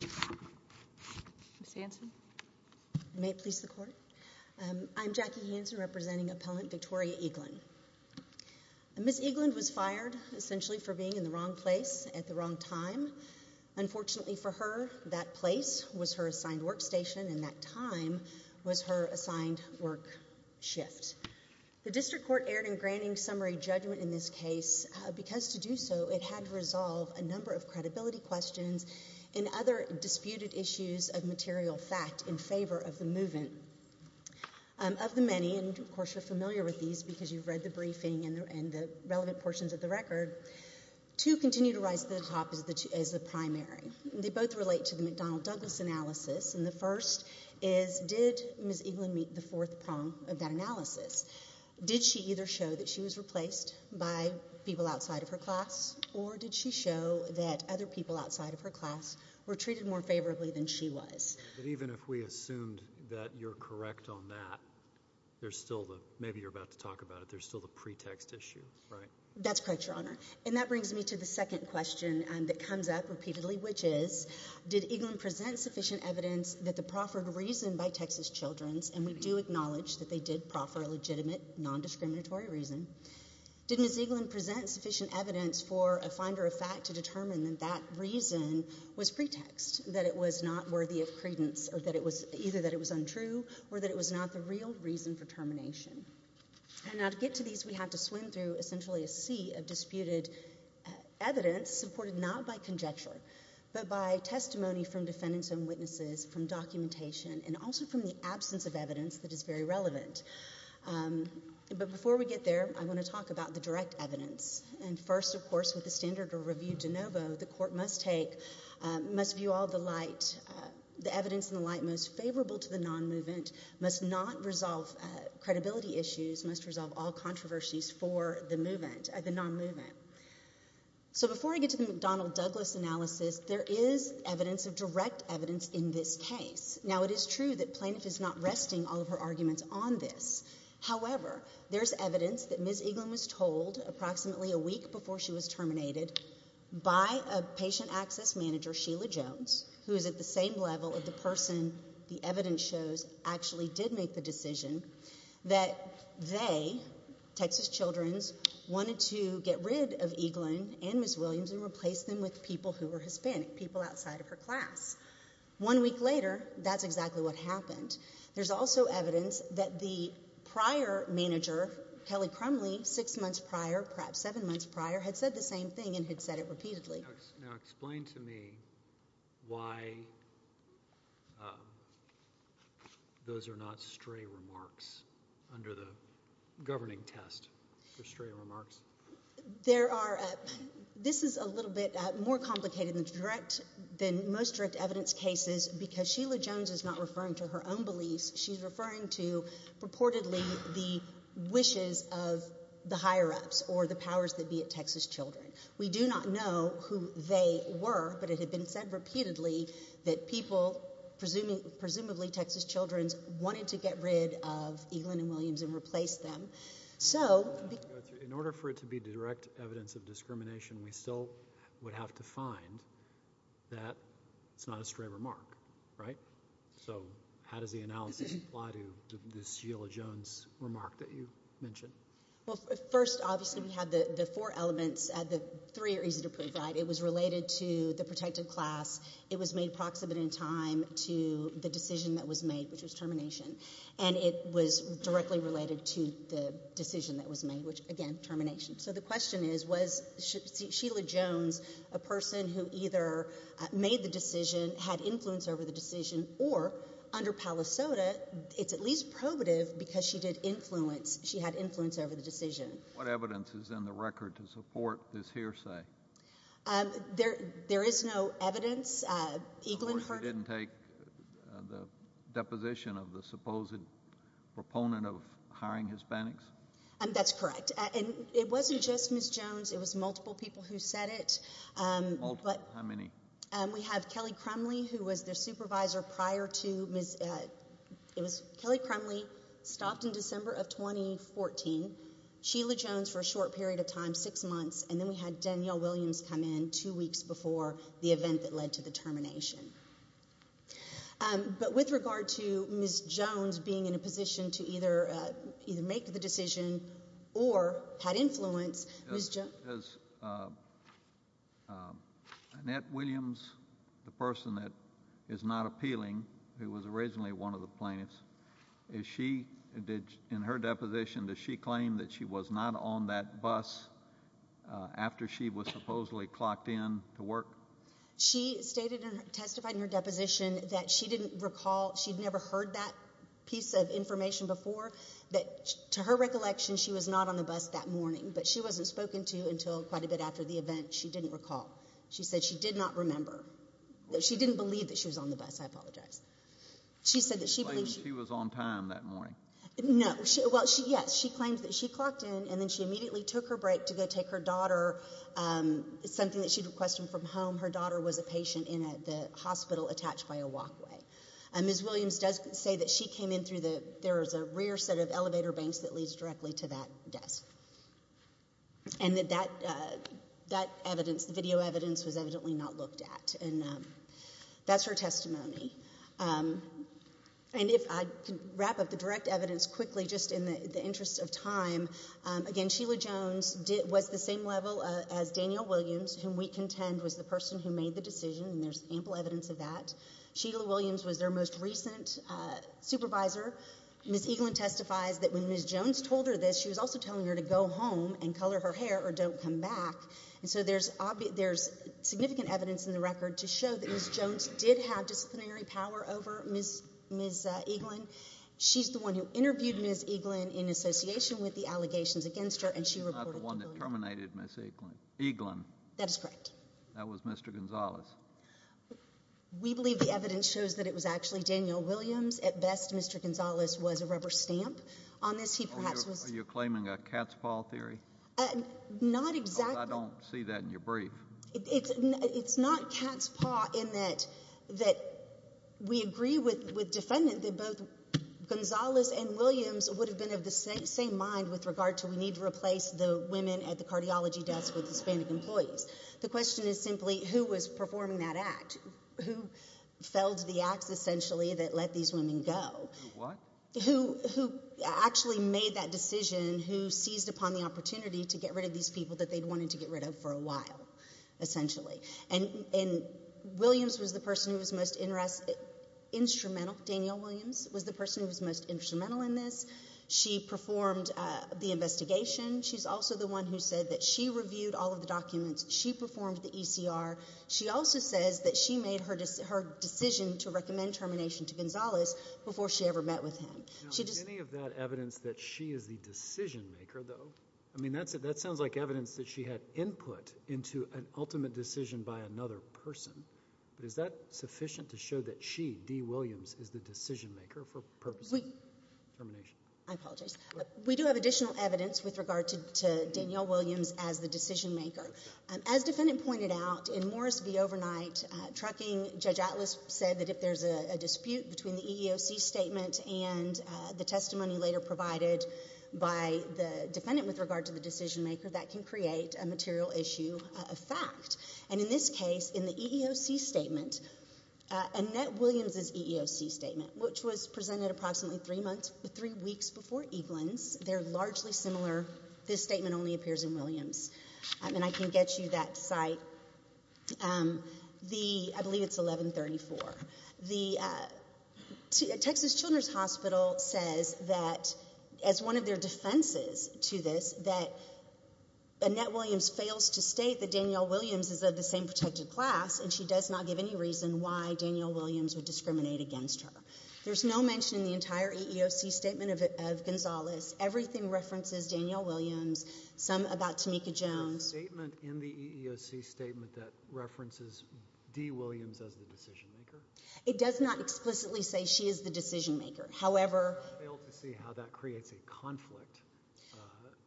Ms. Hanson. May it please the court. I'm Jackie Hanson representing Appellant Victoria Eaglin. Ms. Eaglin was fired essentially for being in the wrong place at the wrong time. Unfortunately for her, that place was her assigned workstation and that time was her assigned work shift. The District Court erred in granting summary judgment in this case because to do so it had to resolve a number of credibility questions and other disputed issues of material fact in favor of the movement. Of the many, and of course you're familiar with these because you've read the briefing and the relevant portions of the record, two continue to rise to the top as the primary. They both relate to the McDonnell-Douglas analysis and the first is did Ms. Eaglin meet the fourth prong of that analysis? Did she either show that she was replaced by people outside of her class or did she show that other people outside of her class were treated more favorably than she was? Even if we assumed that you're correct on that, there's still the, maybe you're about to talk about it, there's still the pretext issue, right? That's correct, Your Honor. And that brings me to the second question that comes up repeatedly which is did Eaglin present sufficient evidence that the proffered reason by Texas Children's, and we do acknowledge that they did proffer a legitimate, non-discriminatory reason, did Ms. Eaglin present sufficient evidence for a finder of fact to determine that that reason was pretext, that it was not worthy of credence or that it was either that it was untrue or that it was not the real reason for termination? And now to get to these we have to swim through essentially a sea of disputed evidence supported not by conjecture but by testimony from defendants and witnesses, from documentation and also from the absence of evidence that is very relevant. But before we get there I want to talk about the direct evidence and first of course with the standard of review de novo the court must take, must view all the light, the evidence in the light most favorable to the non-movement, must not resolve credibility issues, must resolve all controversies for the movement, the non-movement. So before I get to the McDonnell-Douglas analysis, there is evidence of direct evidence in this case. Now it is true that Plaintiff is not resting all of her arguments on this, however there is evidence that Ms. Eaglin was told approximately a week before she was terminated by a patient access manager, Sheila Jones, who is at the same level of the person the evidence shows actually did make the decision that they, Texas Children's, wanted to get rid of Eaglin and Ms. Williams and replace them with people who were Hispanic, people outside of her class. One week later, that is exactly what happened. There is also evidence that the prior manager, Kelly Crumley, six months prior, perhaps seven months prior, had said the same thing and had said it repeatedly. Now explain to me why those are not stray remarks under the governing test for stray remarks. There are, this is a little bit more complicated than most direct evidence cases because Sheila Jones is not referring to her own beliefs, she is referring to purportedly the wishes of the higher-ups or the powers that be at Texas Children's. We do not know who they were, but it had been said repeatedly that people, presumably Texas Children's, wanted to get rid of Eaglin and Williams and replace them. So, in order for it to be direct evidence of discrimination, we still would have to find that it is not a stray remark, right? So how does the analysis apply to this Sheila Jones remark that you mentioned? Well, first, obviously we have the four elements, the three are easy to provide. It was related to the protected class, it was made proximate in time to the decision that was made, which was termination. And it was directly related to the decision that was made, which again, termination. So the question is, was Sheila Jones a person who either made the decision, had influence over the decision, or under Palisoda, it's at least probative because she did influence, she had influence over the decision. What evidence is in the record to support this hearsay? There is no evidence. Of course, you didn't take the deposition of the supposed proponent of hiring Hispanics? That's correct. And it wasn't just Ms. Jones, it was multiple people who said it. How many? We have Kelly Crumley, who was the supervisor prior to Ms., it was Kelly Crumley stopped in December of 2014, Sheila Jones for a short period of time, six months, and then we had Danielle Williams come in two weeks before the event that led to the termination. But with regard to Ms. Jones being in a position to either make the decision, or had influence, Ms. Jones... Is Annette Williams the person that is not appealing, who was originally one of the plaintiffs, is she, in her deposition, does she claim that she was not on that bus after she was supposedly clocked in to work? She stated, testified in her deposition, that she didn't recall, she'd never heard that piece of information before, that to her recollection, she was not on the bus that morning, but she wasn't spoken to until quite a bit after the event, she didn't recall. She said she did not remember. She didn't believe that she was on the bus, I apologize. She said that she believed... She claimed that she was on time that morning. No, well, yes, she claimed that she clocked in, and then she immediately took her break to go take her daughter, something that she'd requested from home, her daughter was a patient in the hospital attached by a walkway. Ms. Williams does say that she came in through the, there is a rear set of elevator banks that leads directly to that desk. And that that evidence, the video evidence, was evidently not looked at. And that's her testimony. And if I could wrap up the direct evidence quickly, just in the interest of time, again, Sheila Jones was the same level as Danielle Williams, whom we contend was the person who made the decision, and there's ample evidence of that. Sheila Williams was their most recent supervisor. Ms. Eaglin testifies that when Ms. Jones told her this, she was also telling her to go home and color her hair or don't come back. And so there's significant evidence in the record to show that Ms. Jones did have disciplinary power over Ms. Eaglin. She's the one who interviewed Ms. Eaglin in association with the allegations against her, and she reported to the court. She's not the one that terminated Ms. Eaglin. Eaglin. That is correct. That was Mr. Gonzales. We believe the evidence shows that it was actually Danielle Williams. At best, Mr. Gonzales was a rubber stamp on this. He perhaps was. Are you claiming a cat's paw theory? Not exactly. I don't see that in your brief. It's not cat's paw in that we agree with defendant that both Gonzales and Williams would have been of the same mind with regard to we need to replace the women at the cardiology desk with Hispanic employees. The question is simply who was performing that act? Who felled the ax, essentially, that let these women go? Who what? Who made that decision? Who seized upon the opportunity to get rid of these people that they'd wanted to get rid of for a while, essentially? Williams was the person who was most instrumental. Danielle Williams was the person who was most instrumental in this. She performed the investigation. She's also the one who said that she reviewed all of the documents. She performed the ECR. She also says that she made her decision to recommend termination to Gonzales before she ever met with him. Now, is any of that evidence that she is the decision maker, though? I mean, that sounds like evidence that she had input into an ultimate decision by another person. But is that sufficient to show that she, Dee Williams, is the decision maker for purposes of termination? I apologize. We do have additional evidence with regard to Danielle Williams as the decision maker. As defendant pointed out, in Morris v. Overnight Trucking, Judge Atlas said that if there's a dispute between the EEOC statement and the testimony later provided by the defendant with regard to the decision maker, that can create a material issue of fact. And in this case, in the EEOC statement, Annette Williams' EEOC statement, which was presented approximately three weeks before Eaglin's, they're largely similar. This statement only appears in Williams. And I can get you that site. I believe it's 1134. The Texas Children's Hospital says that, as one of their defenses to this, that Annette Williams fails to state that Danielle Williams is of the same protected class, and she does not give any reason why Danielle Williams would discriminate against her. There's no mention in the entire EEOC statement of Gonzales. Everything references Danielle Williams. Some about Tamika Jones. There's a statement in the EEOC statement that references Dee Williams as the decision It does not explicitly say she is the decision maker. However, I failed to see how that creates a conflict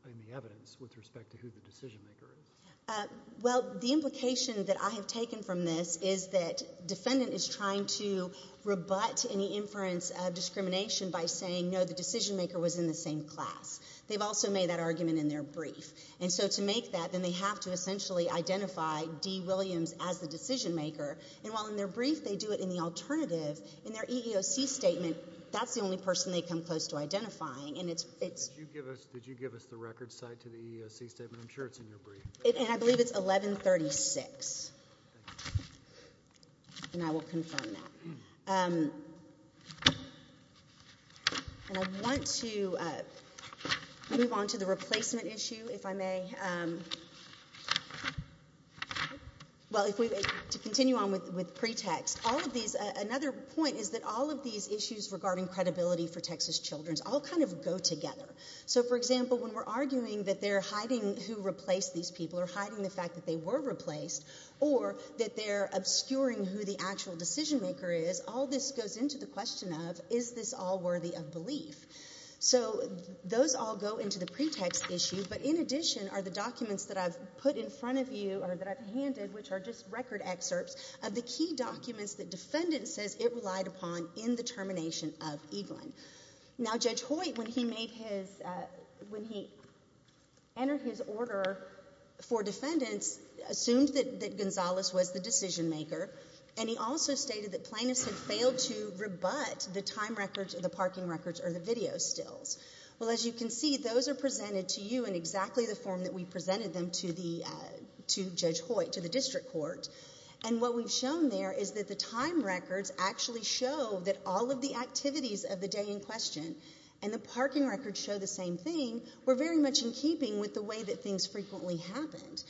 in the evidence with respect to who the decision maker is. Well, the implication that I have taken from this is that defendant is trying to rebut any inference of discrimination by saying, no, the decision maker was in the same class. They've also made that argument in their brief. And so to make that, then they have to essentially identify Dee Williams as the decision maker. And while in their brief, they do it in the alternative, in their EEOC statement, that's the only person they come close to identifying. And it's, it's, Did you give us, did you give us the record side to the EEOC statement? I'm sure it's in your brief. And I believe it's 1136. And I will confirm that. And I want to move on to the replacement issue, if I may. Well, if we, to continue on with, with pretext, all of these, another point is that all of these issues regarding credibility for Texas children's all kind of go together. So for example, when we're arguing that they're hiding who replaced these people or hiding the fact that they were replaced, or that they're obscuring who the actual decision maker is, all this goes into the question of, is this all worthy of belief? So those all go into the pretext issue. But in addition are the documents that I've put in front of you, or that I've handed, which are just record excerpts of the key documents that defendants says it relied upon in the termination of Eaglin. Now Judge Hoyt, when he made his, when he entered his order for defendants, assumed that Gonzales was the decision maker. And he also stated that plaintiffs had failed to rebut the time records or the parking records or the video stills. Well, as you can see, those are presented to you in exactly the form that we presented them to the, to Judge Hoyt, to the district court. And what we've shown there is that the time records actually show that all of the activities of the day in question, and the parking records show the same thing, were very much in keeping with the way that things frequently happened.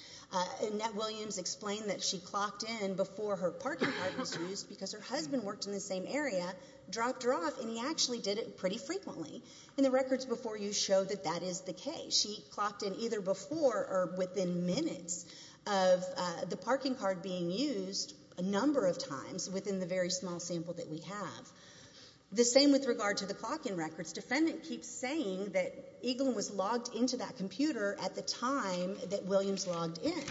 And Nett Williams explained that she clocked in before her parking card was used because her husband worked in the same area, dropped her off, and he actually did it pretty frequently. And the records before you show that that is the case. She clocked in either before or within minutes of the parking card being used a number of times within the very small sample that we have. The same with regard to the clocking records. Defendant keeps saying that Eaglin was logged into that computer at the time that Williams logged in.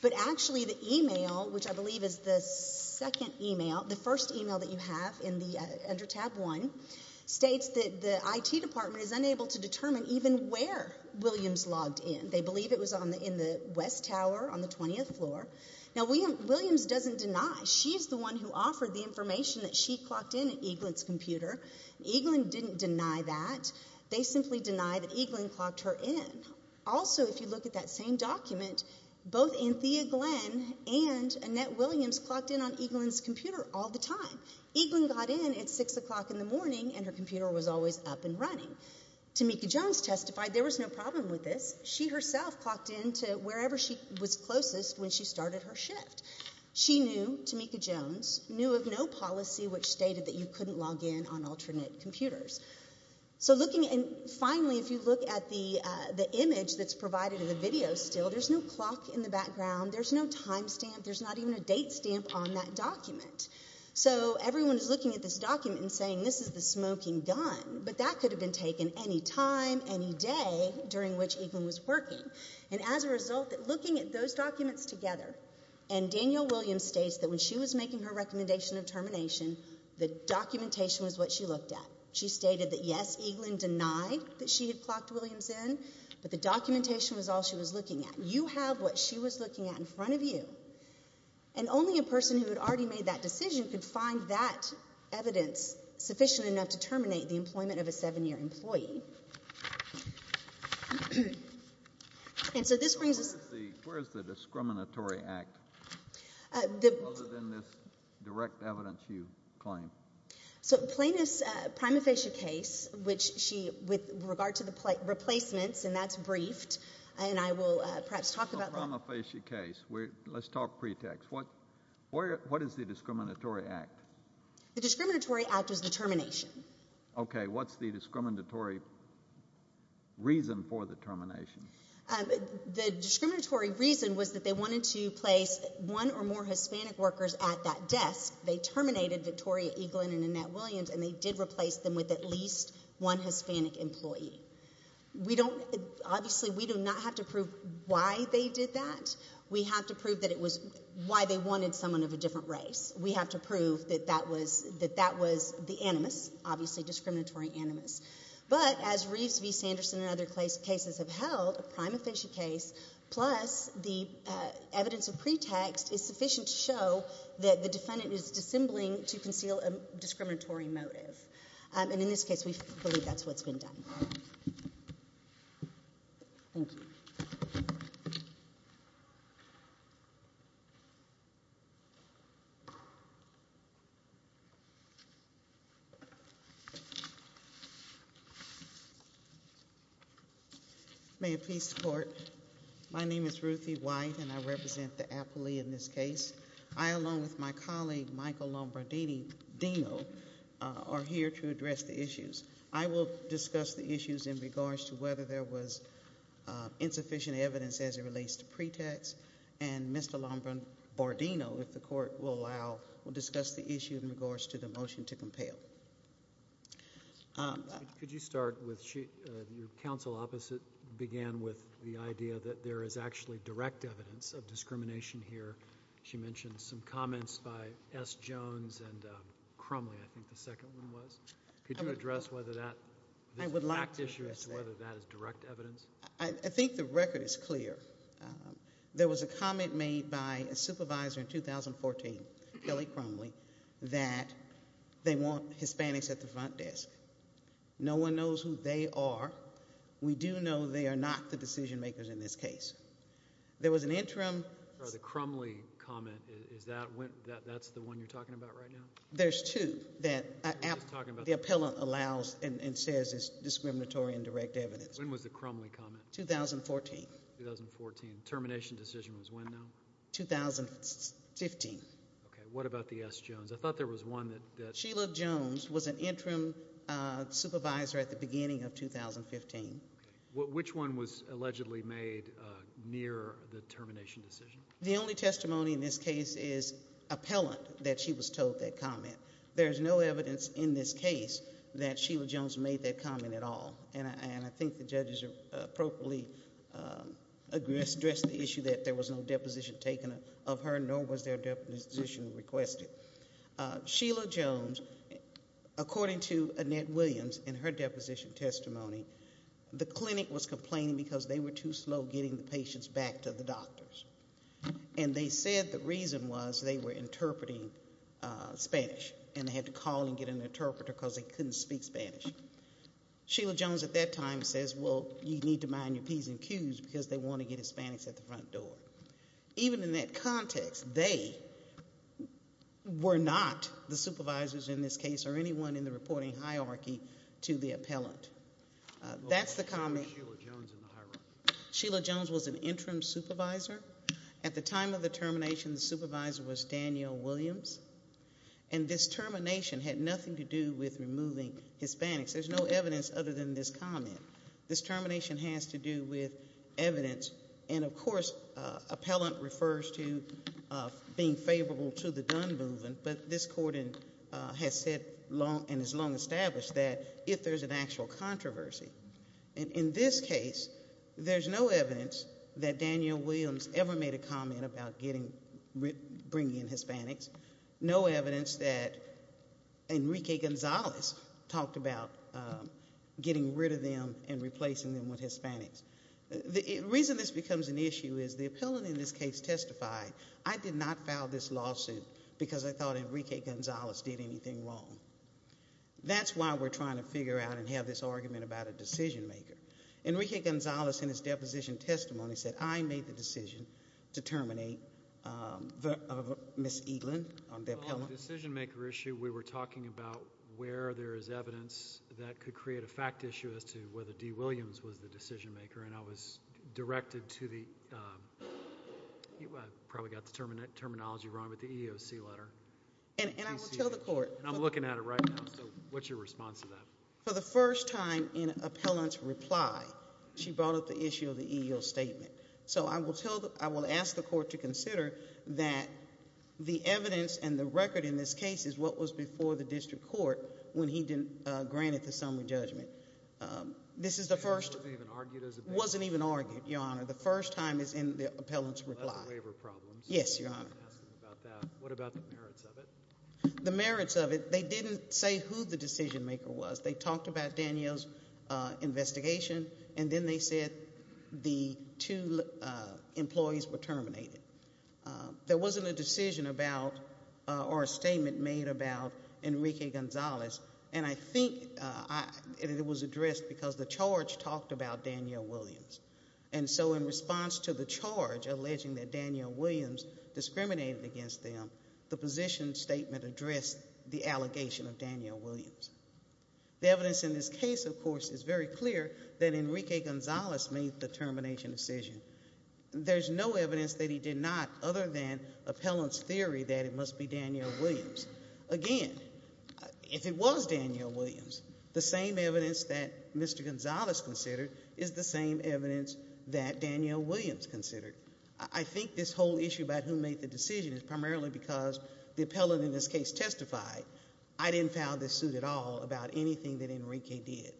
But actually, the email, which I believe is the second email, the first email that you to determine even where Williams logged in. They believe it was in the West Tower on the 20th floor. Now Williams doesn't deny. She's the one who offered the information that she clocked in at Eaglin's computer. Eaglin didn't deny that. They simply denied that Eaglin clocked her in. Also if you look at that same document, both Anthea Glenn and Annette Williams clocked in on Eaglin's computer all the time. Eaglin got in at 6 o'clock in the morning and her computer was always up and running. Tameka Jones testified there was no problem with this. She herself clocked in to wherever she was closest when she started her shift. She knew, Tameka Jones, knew of no policy which stated that you couldn't log in on alternate computers. So looking and finally, if you look at the image that's provided in the video still, there's no clock in the background. There's no time stamp. There's not even a date stamp on that document. So everyone is looking at this document and saying this is the smoking gun, but that could have been taken any time, any day during which Eaglin was working. And as a result, looking at those documents together, and Danielle Williams states that when she was making her recommendation of termination, the documentation was what she looked at. She stated that yes, Eaglin denied that she had clocked Williams in, but the documentation was all she was looking at. You have what she was looking at in front of you. And only a person who had already made that decision could find that evidence sufficient enough to terminate the employment of a seven-year employee. And so this brings us... Where is the discriminatory act other than this direct evidence you claim? So Plaintiff's prima facie case, which she, with regard to the replacements, and that's briefed, and I will perhaps talk about that. Prima facie case, let's talk pretext. What is the discriminatory act? The discriminatory act is the termination. Okay. What's the discriminatory reason for the termination? The discriminatory reason was that they wanted to place one or more Hispanic workers at that desk. They terminated Victoria Eaglin and Annette Williams, and they did replace them with at least one Hispanic employee. We don't... Obviously, we do not have to prove why they did that. We have to prove that it was why they wanted someone of a different race. We have to prove that that was the animus, obviously discriminatory animus. But as Reeves v. Sanderson and other cases have held, a prima facie case plus the evidence of pretext is sufficient to show that the defendant is dissembling to conceal a discriminatory motive. In this case, we believe that's what's been done. May it please the Court, my name is Ruthie White, and I represent the appellee in this case. I, along with my colleague, Michael Lombardino, are here to address the issues. I will discuss the issues in regards to whether there was insufficient evidence as it relates to pretext, and Mr. Lombardino, if the Court will allow, will discuss the issue in regards to the motion to compel. Could you start with your counsel opposite began with the idea that there is actually direct evidence of discrimination here. She mentioned some comments by S. Jones and Crumley, I think the second one was. Could you address whether that is direct evidence? I think the record is clear. There was a comment made by a supervisor in 2014, Kelly Crumley, that they want Hispanics at the front desk. No one knows who they are. We do know they are not the decision makers in this case. There was an interim. The Crumley comment, is that the one you are talking about right now? There is two that the appellant allows and says is discriminatory and direct evidence. When was the Crumley comment? 2014. 2014. Termination decision was when now? 2015. Okay. What about the S. Jones? I thought there was one that. Sheila Jones was an interim supervisor at the beginning of 2015. Which one was allegedly made near the termination decision? The only testimony in this case is appellant that she was told that comment. There is no evidence in this case that Sheila Jones made that comment at all. I think the judges appropriately addressed the issue that there was no deposition taken of her nor was there deposition requested. Sheila Jones, according to Annette Williams in her deposition testimony, the clinic was complaining because they were too slow getting the patients back to the doctors. They said the reason was they were interpreting Spanish and they had to call and get an interpreter because they could not speak Spanish. Sheila Jones at that time says, well, you need to mind your P's and Q's because they want to get a Spanish at the front door. Even in that context, they were not the supervisors in this case or anyone in the reporting hierarchy to the appellant. That's the comment. Sheila Jones was an interim supervisor. At the time of the termination, the supervisor was Daniel Williams. And this termination had nothing to do with removing Hispanics. There's no evidence other than this comment. This termination has to do with evidence. And, of course, appellant refers to being favorable to the Dunn movement. But this court has said and has long established that if there's an actual controversy. In this case, there's no evidence that Daniel Williams ever made a comment about bringing in Hispanics. No evidence that Enrique Gonzalez talked about getting rid of them and replacing them with Hispanics. The reason this becomes an issue is the appellant in this case testified, I did not file this lawsuit because I thought Enrique Gonzalez did anything wrong. That's why we're trying to figure out and have this argument about a decision maker. Enrique Gonzalez in his deposition testimony said, I made the decision to terminate Ms. Eaglin, the appellant. On the decision maker issue, we were talking about where there is evidence that could create a fact issue as to whether Dee Williams was the decision maker, and I was directed to the, I probably got the terminology wrong, but the EEOC letter. And I will tell the court. And I'm looking at it right now, so what's your response to that? For the first time in appellant's reply, she brought up the issue of the EEOC statement. So I will tell, I will ask the court to consider that the evidence and the record in this case is what was before the district court when he granted the summary judgment. This is the first, wasn't even argued, your honor. The first time is in the appellant's reply. Yes, your honor. What about the merits of it? The merits of it, they didn't say who the decision maker was. They talked about Danielle's investigation, and then they said the two employees were terminated. There wasn't a decision about, or a statement made about Enrique Gonzalez, and I think it was addressed because the charge talked about Danielle Williams. And so in response to the charge alleging that Danielle Williams discriminated against them, the position statement addressed the allegation of Danielle Williams. The evidence in this case, of course, is very clear that Enrique Gonzalez made the termination decision. There's no evidence that he did not, other than appellant's theory that it must be Danielle Williams. Again, if it was Danielle Williams, the same evidence that Mr. Gonzalez considered is the same evidence that Danielle Williams considered. I think this whole issue about who made the decision is primarily because the appellant in this case testified, I didn't file this suit at all, about anything that Enrique did.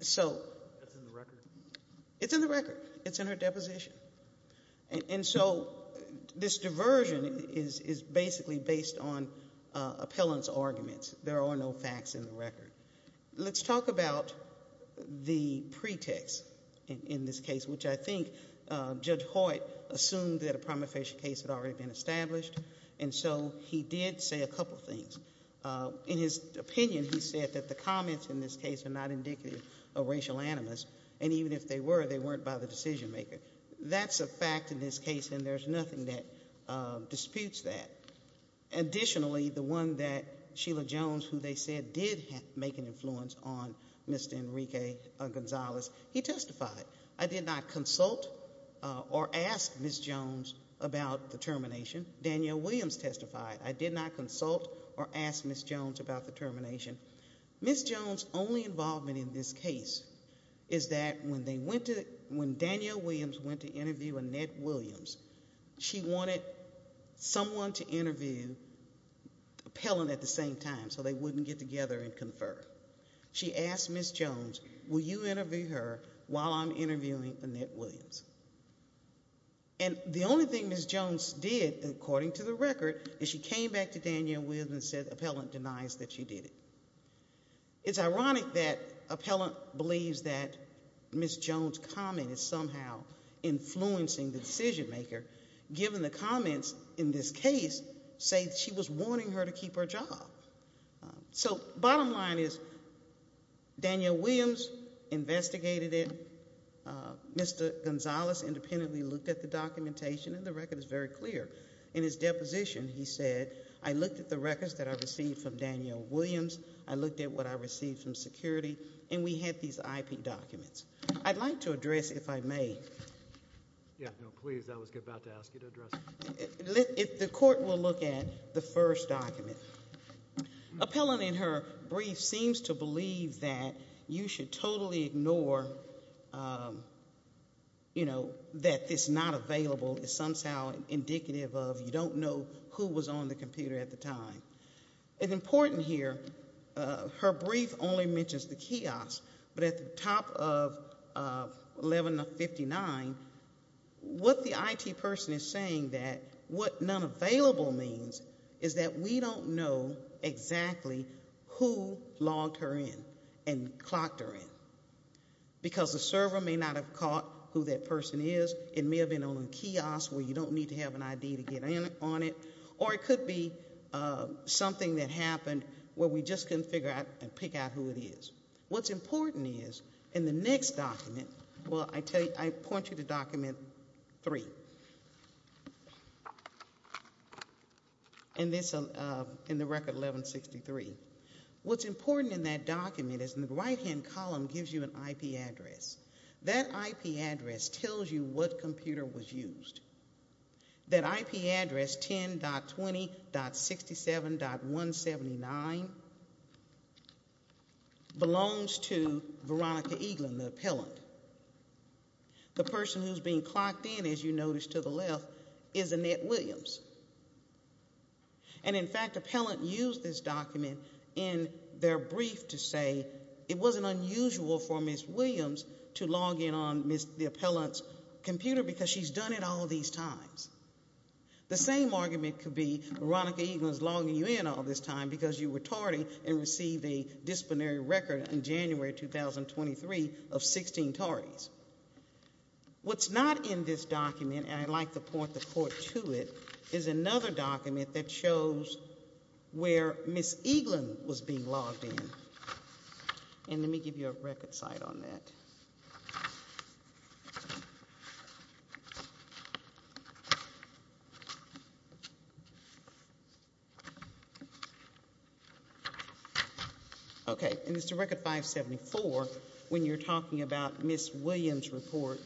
So it's in the record. It's in her deposition. And so this diversion is basically based on appellant's arguments. There are no facts in the record. Let's talk about the pretext in this case, which I think Judge Hoyt assumed that a prima facie case had already been established, and so he did say a couple things. In his opinion, he said that the comments in this case are not indicative of racial animus, and even if they were, they weren't by the decision maker. That's a fact in this case, and there's nothing that disputes that. Additionally, the one that Sheila Jones, who they said did make an influence on Mr. Enrique Gonzalez, he testified, I did not consult or ask Ms. Jones about the termination. Danielle Williams testified, I did not consult or ask Ms. Jones about the termination. Ms. Jones' only involvement in this case is that when Danielle Williams went to interview Annette Williams, she wanted someone to interview the appellant at the same time, so they wouldn't get together and confer. She asked Ms. Jones, will you interview her while I'm interviewing Annette Williams? And the only thing Ms. Jones did, according to the record, is she came back to Danielle Williams and said the appellant denies that she did it. It's ironic that the appellant believes that Ms. Jones' comment is somehow influencing the decision maker, given the comments in this case say that she was warning her to keep her job. So bottom line is, Danielle Williams investigated it, Mr. Gonzalez independently looked at the documentation, and the record is very clear. In his deposition, he said, I looked at the records that I received from Danielle Williams, I looked at what I received from security, and we had these IP documents. I'd like to address, if I may, if the court will look at the first document. Appellant in her brief seems to believe that you should totally ignore, you know, that this not available is somehow indicative of you don't know who was on the computer at the time. It's important here, her brief only mentions the kiosk, but at the top of 11 of 59, what the IT person is saying that what non-available means is that we don't know exactly who logged her in and clocked her in. Because the server may not have caught who that person is, it may have been on the kiosk where you don't need to have an ID to get in on it, or it could be something that happened where we just couldn't figure out and pick out who it is. What's important is, in the next document, well, I point you to document three, in the record 1163. What's important in that document is in the right-hand column gives you an IP address. That IP address tells you what computer was used. That IP address 10.20.67.179 belongs to Veronica Eaglin, the appellant. The person who's being clocked in, as you notice to the left, is Annette Williams. And, in fact, appellant used this document in their brief to say it wasn't unusual for Ms. Williams to log in on the appellant's computer because she's done it all these times. The same argument could be Veronica Eaglin's logging you in all this time because you were tardy and received a disciplinary record in January 2023 of 16 tardies. What's not in this document, and I'd like to point the court to it, is another document that shows where Ms. Eaglin was being logged in. And let me give you a record cite on that. Okay, and it's the record 574 when you're talking about Ms. Williams' report.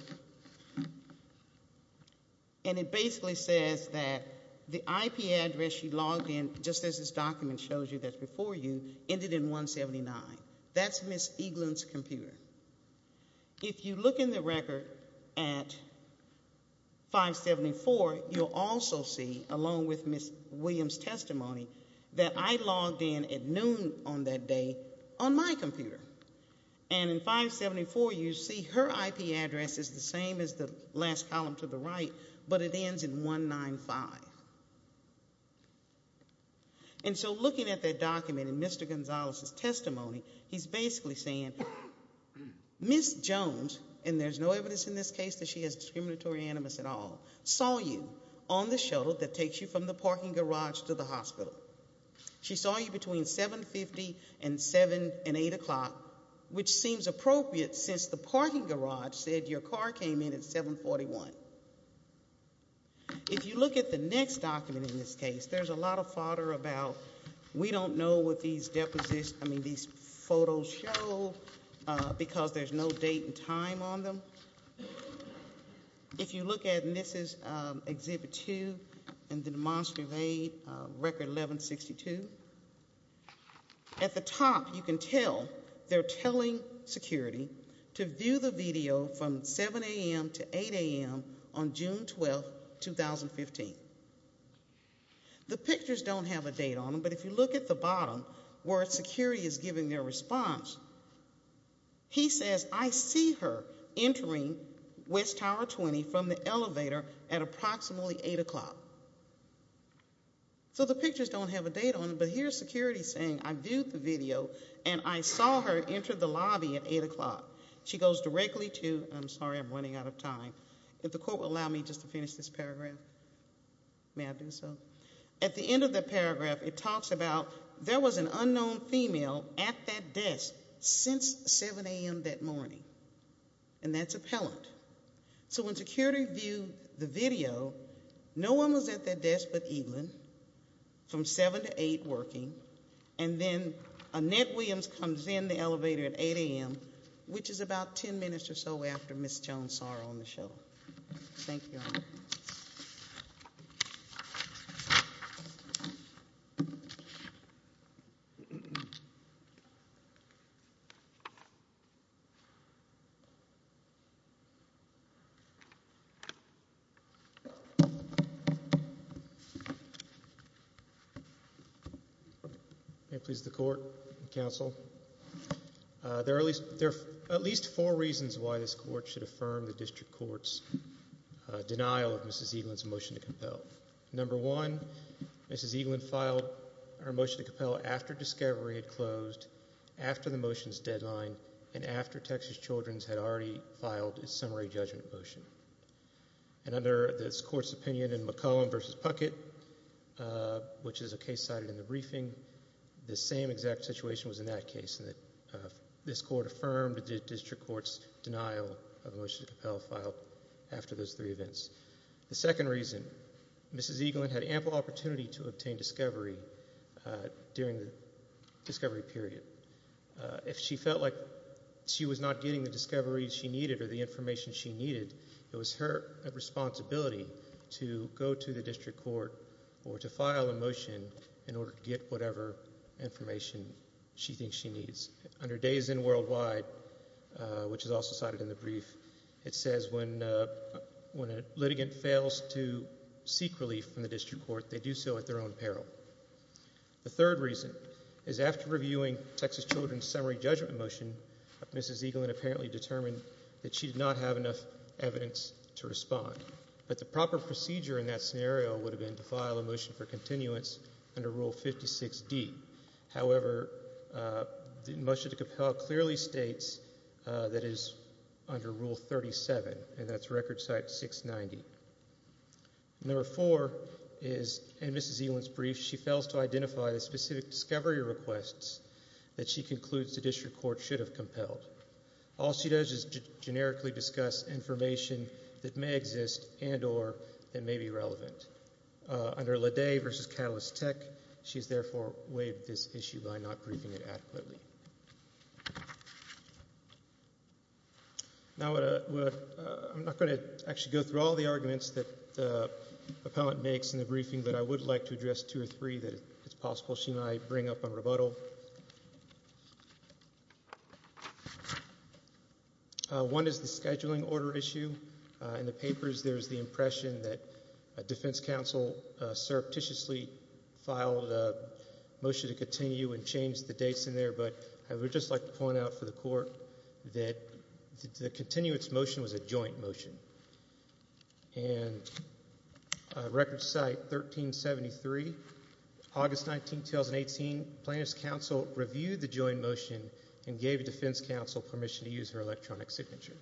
And it basically says that the IP address she logged in, just as this document shows you that's before you, ended in 179. That's Ms. Eaglin's computer. If you look in the record at 574, you'll also see, along with Ms. Williams' testimony, that I logged in at noon on that day on my computer. And in 574, you see her IP address is the same as the last column to the right, but it ends in 195. And so looking at that document and Mr. Gonzalez's testimony, he's basically saying Ms. Jones, and there's no evidence in this case that she is discriminatory animus at all, saw you on the shuttle that takes you from the parking garage to the hospital. She saw you between 7.50 and 8 o'clock, which seems appropriate since the parking garage said your car came in at 7.41. If you look at the next document in this case, there's a lot of fodder about we don't know what these deposits, I mean these photos show because there's no date and time on them. If you look at Mrs. Exhibit 2 and the demonstrably record 1162, at the top you can tell they're at 8 a.m. on June 12, 2015. The pictures don't have a date on them, but if you look at the bottom where security is giving their response, he says, I see her entering West Tower 20 from the elevator at approximately 8 o'clock. So the pictures don't have a date on them, but here's security saying I viewed the video She goes directly to, I'm sorry I'm running out of time, if the court will allow me just to finish this paragraph, may I do so? At the end of the paragraph, it talks about there was an unknown female at that desk since 7 a.m. that morning, and that's appellant. So when security viewed the video, no one was at that desk but Evelyn from 7 to 8 working, and then Annette Williams comes in the elevator at 8 a.m., which is about 10 minutes or so after Ms. Jones saw her on the show. May it please the court and counsel, there are at least four reasons why this court should affirm the district court's denial of Mrs. Evelyn's motion to compel. Number one, Mrs. Evelyn filed her motion to compel after Discovery had closed, after the motion's deadline, and after Texas Children's had already filed its summary judgment motion. And under this court's opinion in McCollum v. Puckett, which is a case cited in the briefing, the same exact situation was in that case, in that this court affirmed the district court's denial of the motion to compel filed after those three events. The second reason, Mrs. Evelyn had ample opportunity to obtain Discovery during the Discovery period. If she felt like she was not getting the Discovery she needed or the information she needed, it was her responsibility to go to the district court or to file a motion in order to get whatever information she thinks she needs. Under Days In Worldwide, which is also cited in the brief, it says when a litigant fails to seek relief from the district court, they do so at their own peril. The third reason is after reviewing Texas Children's summary judgment motion, Mrs. Evelyn apparently determined that she did not have enough evidence to respond. But the proper procedure in that scenario would have been to file a motion for continuance under Rule 56D. However, the motion to compel clearly states that it is under Rule 37, and that's record site 690. Number four is in Mrs. Evelyn's brief, she fails to identify the specific discovery requests that she concludes the district court should have compelled. All she does is generically discuss information that may exist and or that may be relevant. Under Ledet versus Catalyst Tech, she's therefore waived this issue by not briefing it adequately. Now, I'm not going to actually go through all the arguments that the appellant makes in the briefing, but I would like to address two or three that it's possible she might bring up on rebuttal. One is the scheduling order issue. In the papers, there's the impression that a defense counsel surreptitiously filed a motion to continue and change the dates in there, but I would just like to point out for the court that the continuance motion was a joint motion. And record site 1373, August 19, 2018, plaintiff's counsel reviewed the joint motion and gave a defense counsel permission to use her electronic signature.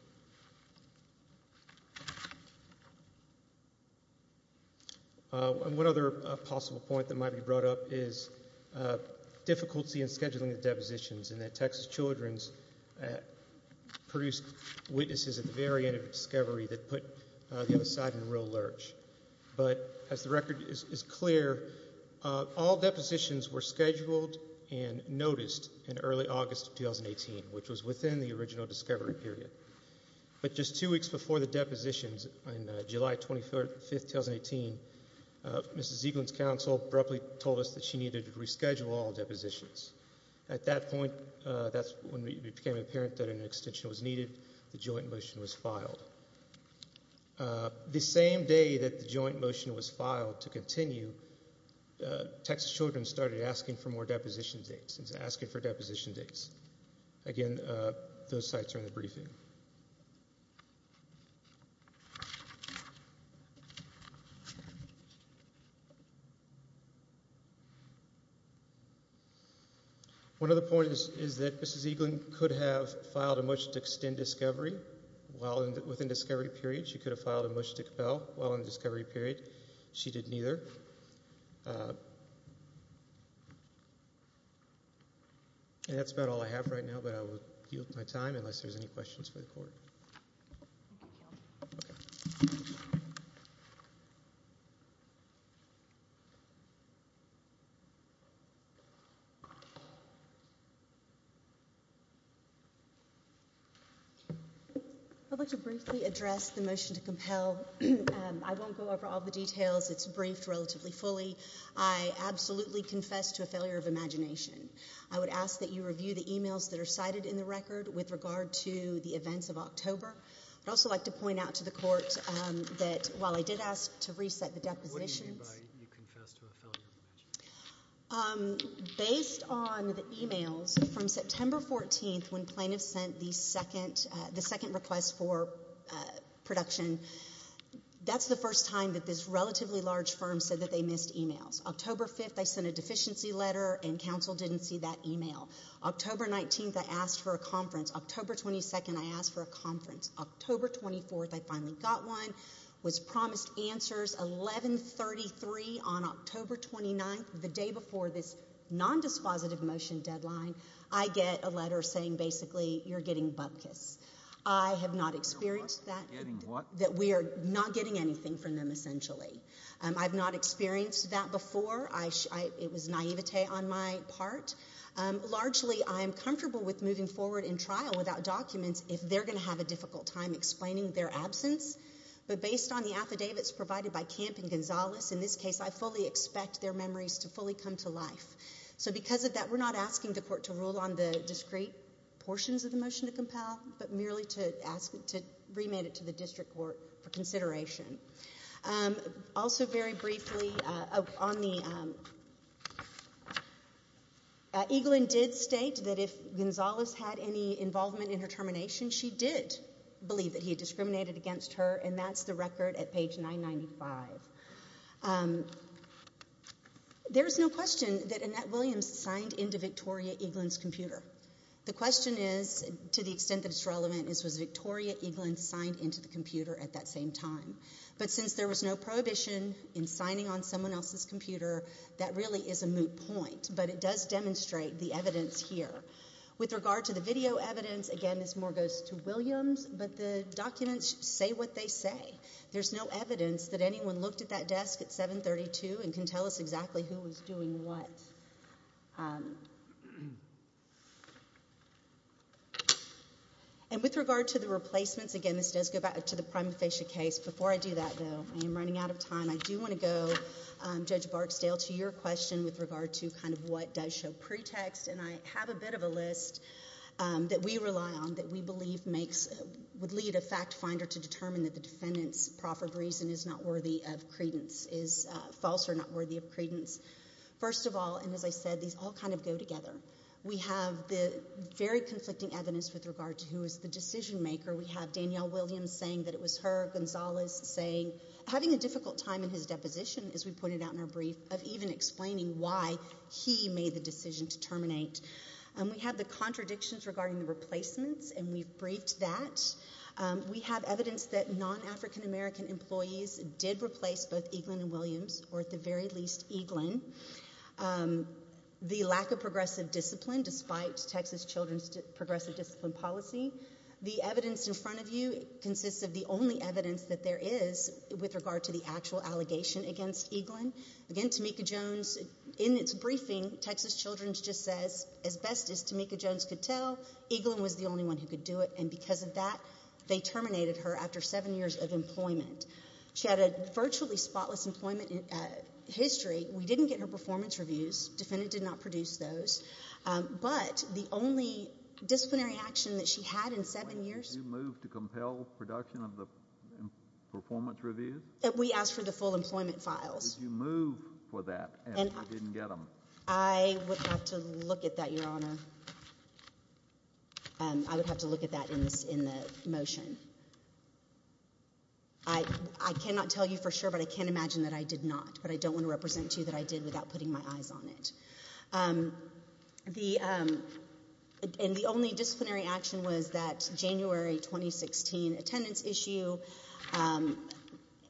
And one other possible point that might be brought up is difficulty in scheduling the depositions and that Texas Children's produced witnesses at the very end of the discovery that put the other side in a real lurch. But as the record is clear, all depositions were scheduled and noticed in early August 2018, which was within the original discovery period. But just two weeks before the depositions, on July 25, 2018, Mrs. Ziegland's counsel abruptly told us that she needed to reschedule all depositions. At that point, that's when it became apparent that an extension was needed. The joint motion was filed. The same day that the joint motion was filed to continue, Texas Children's started asking for more deposition dates, asking for deposition dates. Again, those sites are in the briefing. One other point is that Mrs. Ziegland could have filed a motion to extend discovery within discovery period. She could have filed a motion to compel while in discovery period. She did neither. And that's about all I have right now, but I will yield my time unless there's any questions for the court. Okay. I'd like to briefly address the motion to compel. I won't go over all the details. It's briefed relatively fully. I absolutely confess to a failure of imagination. I would ask that you review the emails that are cited in the record with regard to the events of October. I'd also like to point out to the court that while I did ask to reset the depositions. What do you mean by you confess to a failure of imagination? Based on the emails from September 14th when plaintiffs sent the second request for production, that's the first time that this relatively large firm said that they missed emails. October 5th, I sent a deficiency letter and counsel didn't see that email. October 19th, I asked for a conference. October 22nd, I asked for a conference. October 24th, I finally got one. It was promised answers. 1133 on October 29th, the day before this non-dispositive motion deadline, I get a letter saying basically you're getting bupkis. I have not experienced that, that we are not getting anything from them essentially. I've not experienced that before. It was naivete on my part. Largely, I'm comfortable with moving forward in trial without documents if they're going to have a difficult time explaining their absence. But based on the affidavits provided by Camp and Gonzales, in this case I fully expect their memories to fully come to life. So because of that, we're not asking the court to rule on the discrete portions of the motion to compel, but merely to remit it to the district court for consideration. Also very briefly, Eaglin did state that if Gonzales had any involvement in her termination, she did believe that he discriminated against her and that's the record at page 995. There's no question that Annette Williams signed into Victoria Eaglin's computer. The question is, to the extent that it's relevant, was Victoria Eaglin signed into the computer at that same time? But since there was no prohibition in signing on someone else's computer, that really is a moot point, but it does demonstrate the evidence here. With regard to the video evidence, again this more goes to Williams, but the documents say what they say. There's no evidence that anyone looked at that desk at 732 and can tell us exactly who was doing what. And with regard to the replacements, again this does go back to the prima facie case. Before I do that though, I am running out of time, I do want to go, Judge Barksdale, to your question with regard to kind of what does show pretext. And I have a bit of a list that we rely on that we believe makes, would lead a fact finder to determine that the defendant's proffered reason is not worthy of credence, is false or not worthy of credence. First of all, and as I said, these all kind of go together. We have the very conflicting evidence with regard to who is the decision maker. We have Danielle Williams saying that it was her, Gonzalez saying, having a difficult time in his deposition, as we pointed out in our brief, of even explaining why he made the decision to terminate. We have the contradictions regarding the replacements and we've briefed that. We have evidence that non-African American employees did replace both Eaglin and Williams, or at the very least Eaglin. The lack of progressive discipline despite Texas children's progressive discipline policy. The evidence in front of you consists of the only evidence that there is with regard to the actual allegation against Eaglin. Again, Tamika Jones, in its briefing, Texas Children's just says, as best as Tamika Jones could tell, Eaglin was the only one who could do it. And because of that, they terminated her after seven years of employment. She had a virtually spotless employment history. We didn't get her performance reviews. Defendant did not produce those. But the only disciplinary action that she had in seven years. Did you move to compel production of the performance reviews? We asked for the full employment files. Did you move for that and you didn't get them? I would have to look at that, Your Honor. I would have to look at that in the motion. I cannot tell you for sure, but I can imagine that I did not. But I don't want to represent to you that I did without putting my eyes on it. And the only disciplinary action was that January 2016 attendance issue.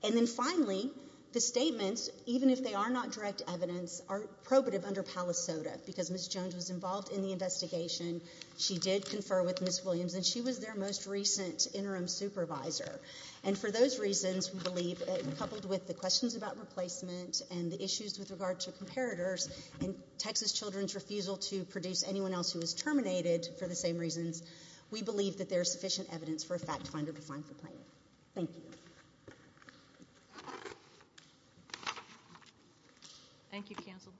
And then finally, the statements, even if they are not direct evidence, are probative under Palisoda because Ms. Jones was involved in the investigation. She did confer with Ms. Williams and she was their most recent interim supervisor. And for those reasons, we believe, coupled with the questions about replacement and the issues with regard to comparators and Texas Children's refusal to produce anyone else who was terminated for the same reasons, we believe that there is sufficient evidence for a fact finder to find the plaintiff. Thank you. Thank you, counsel.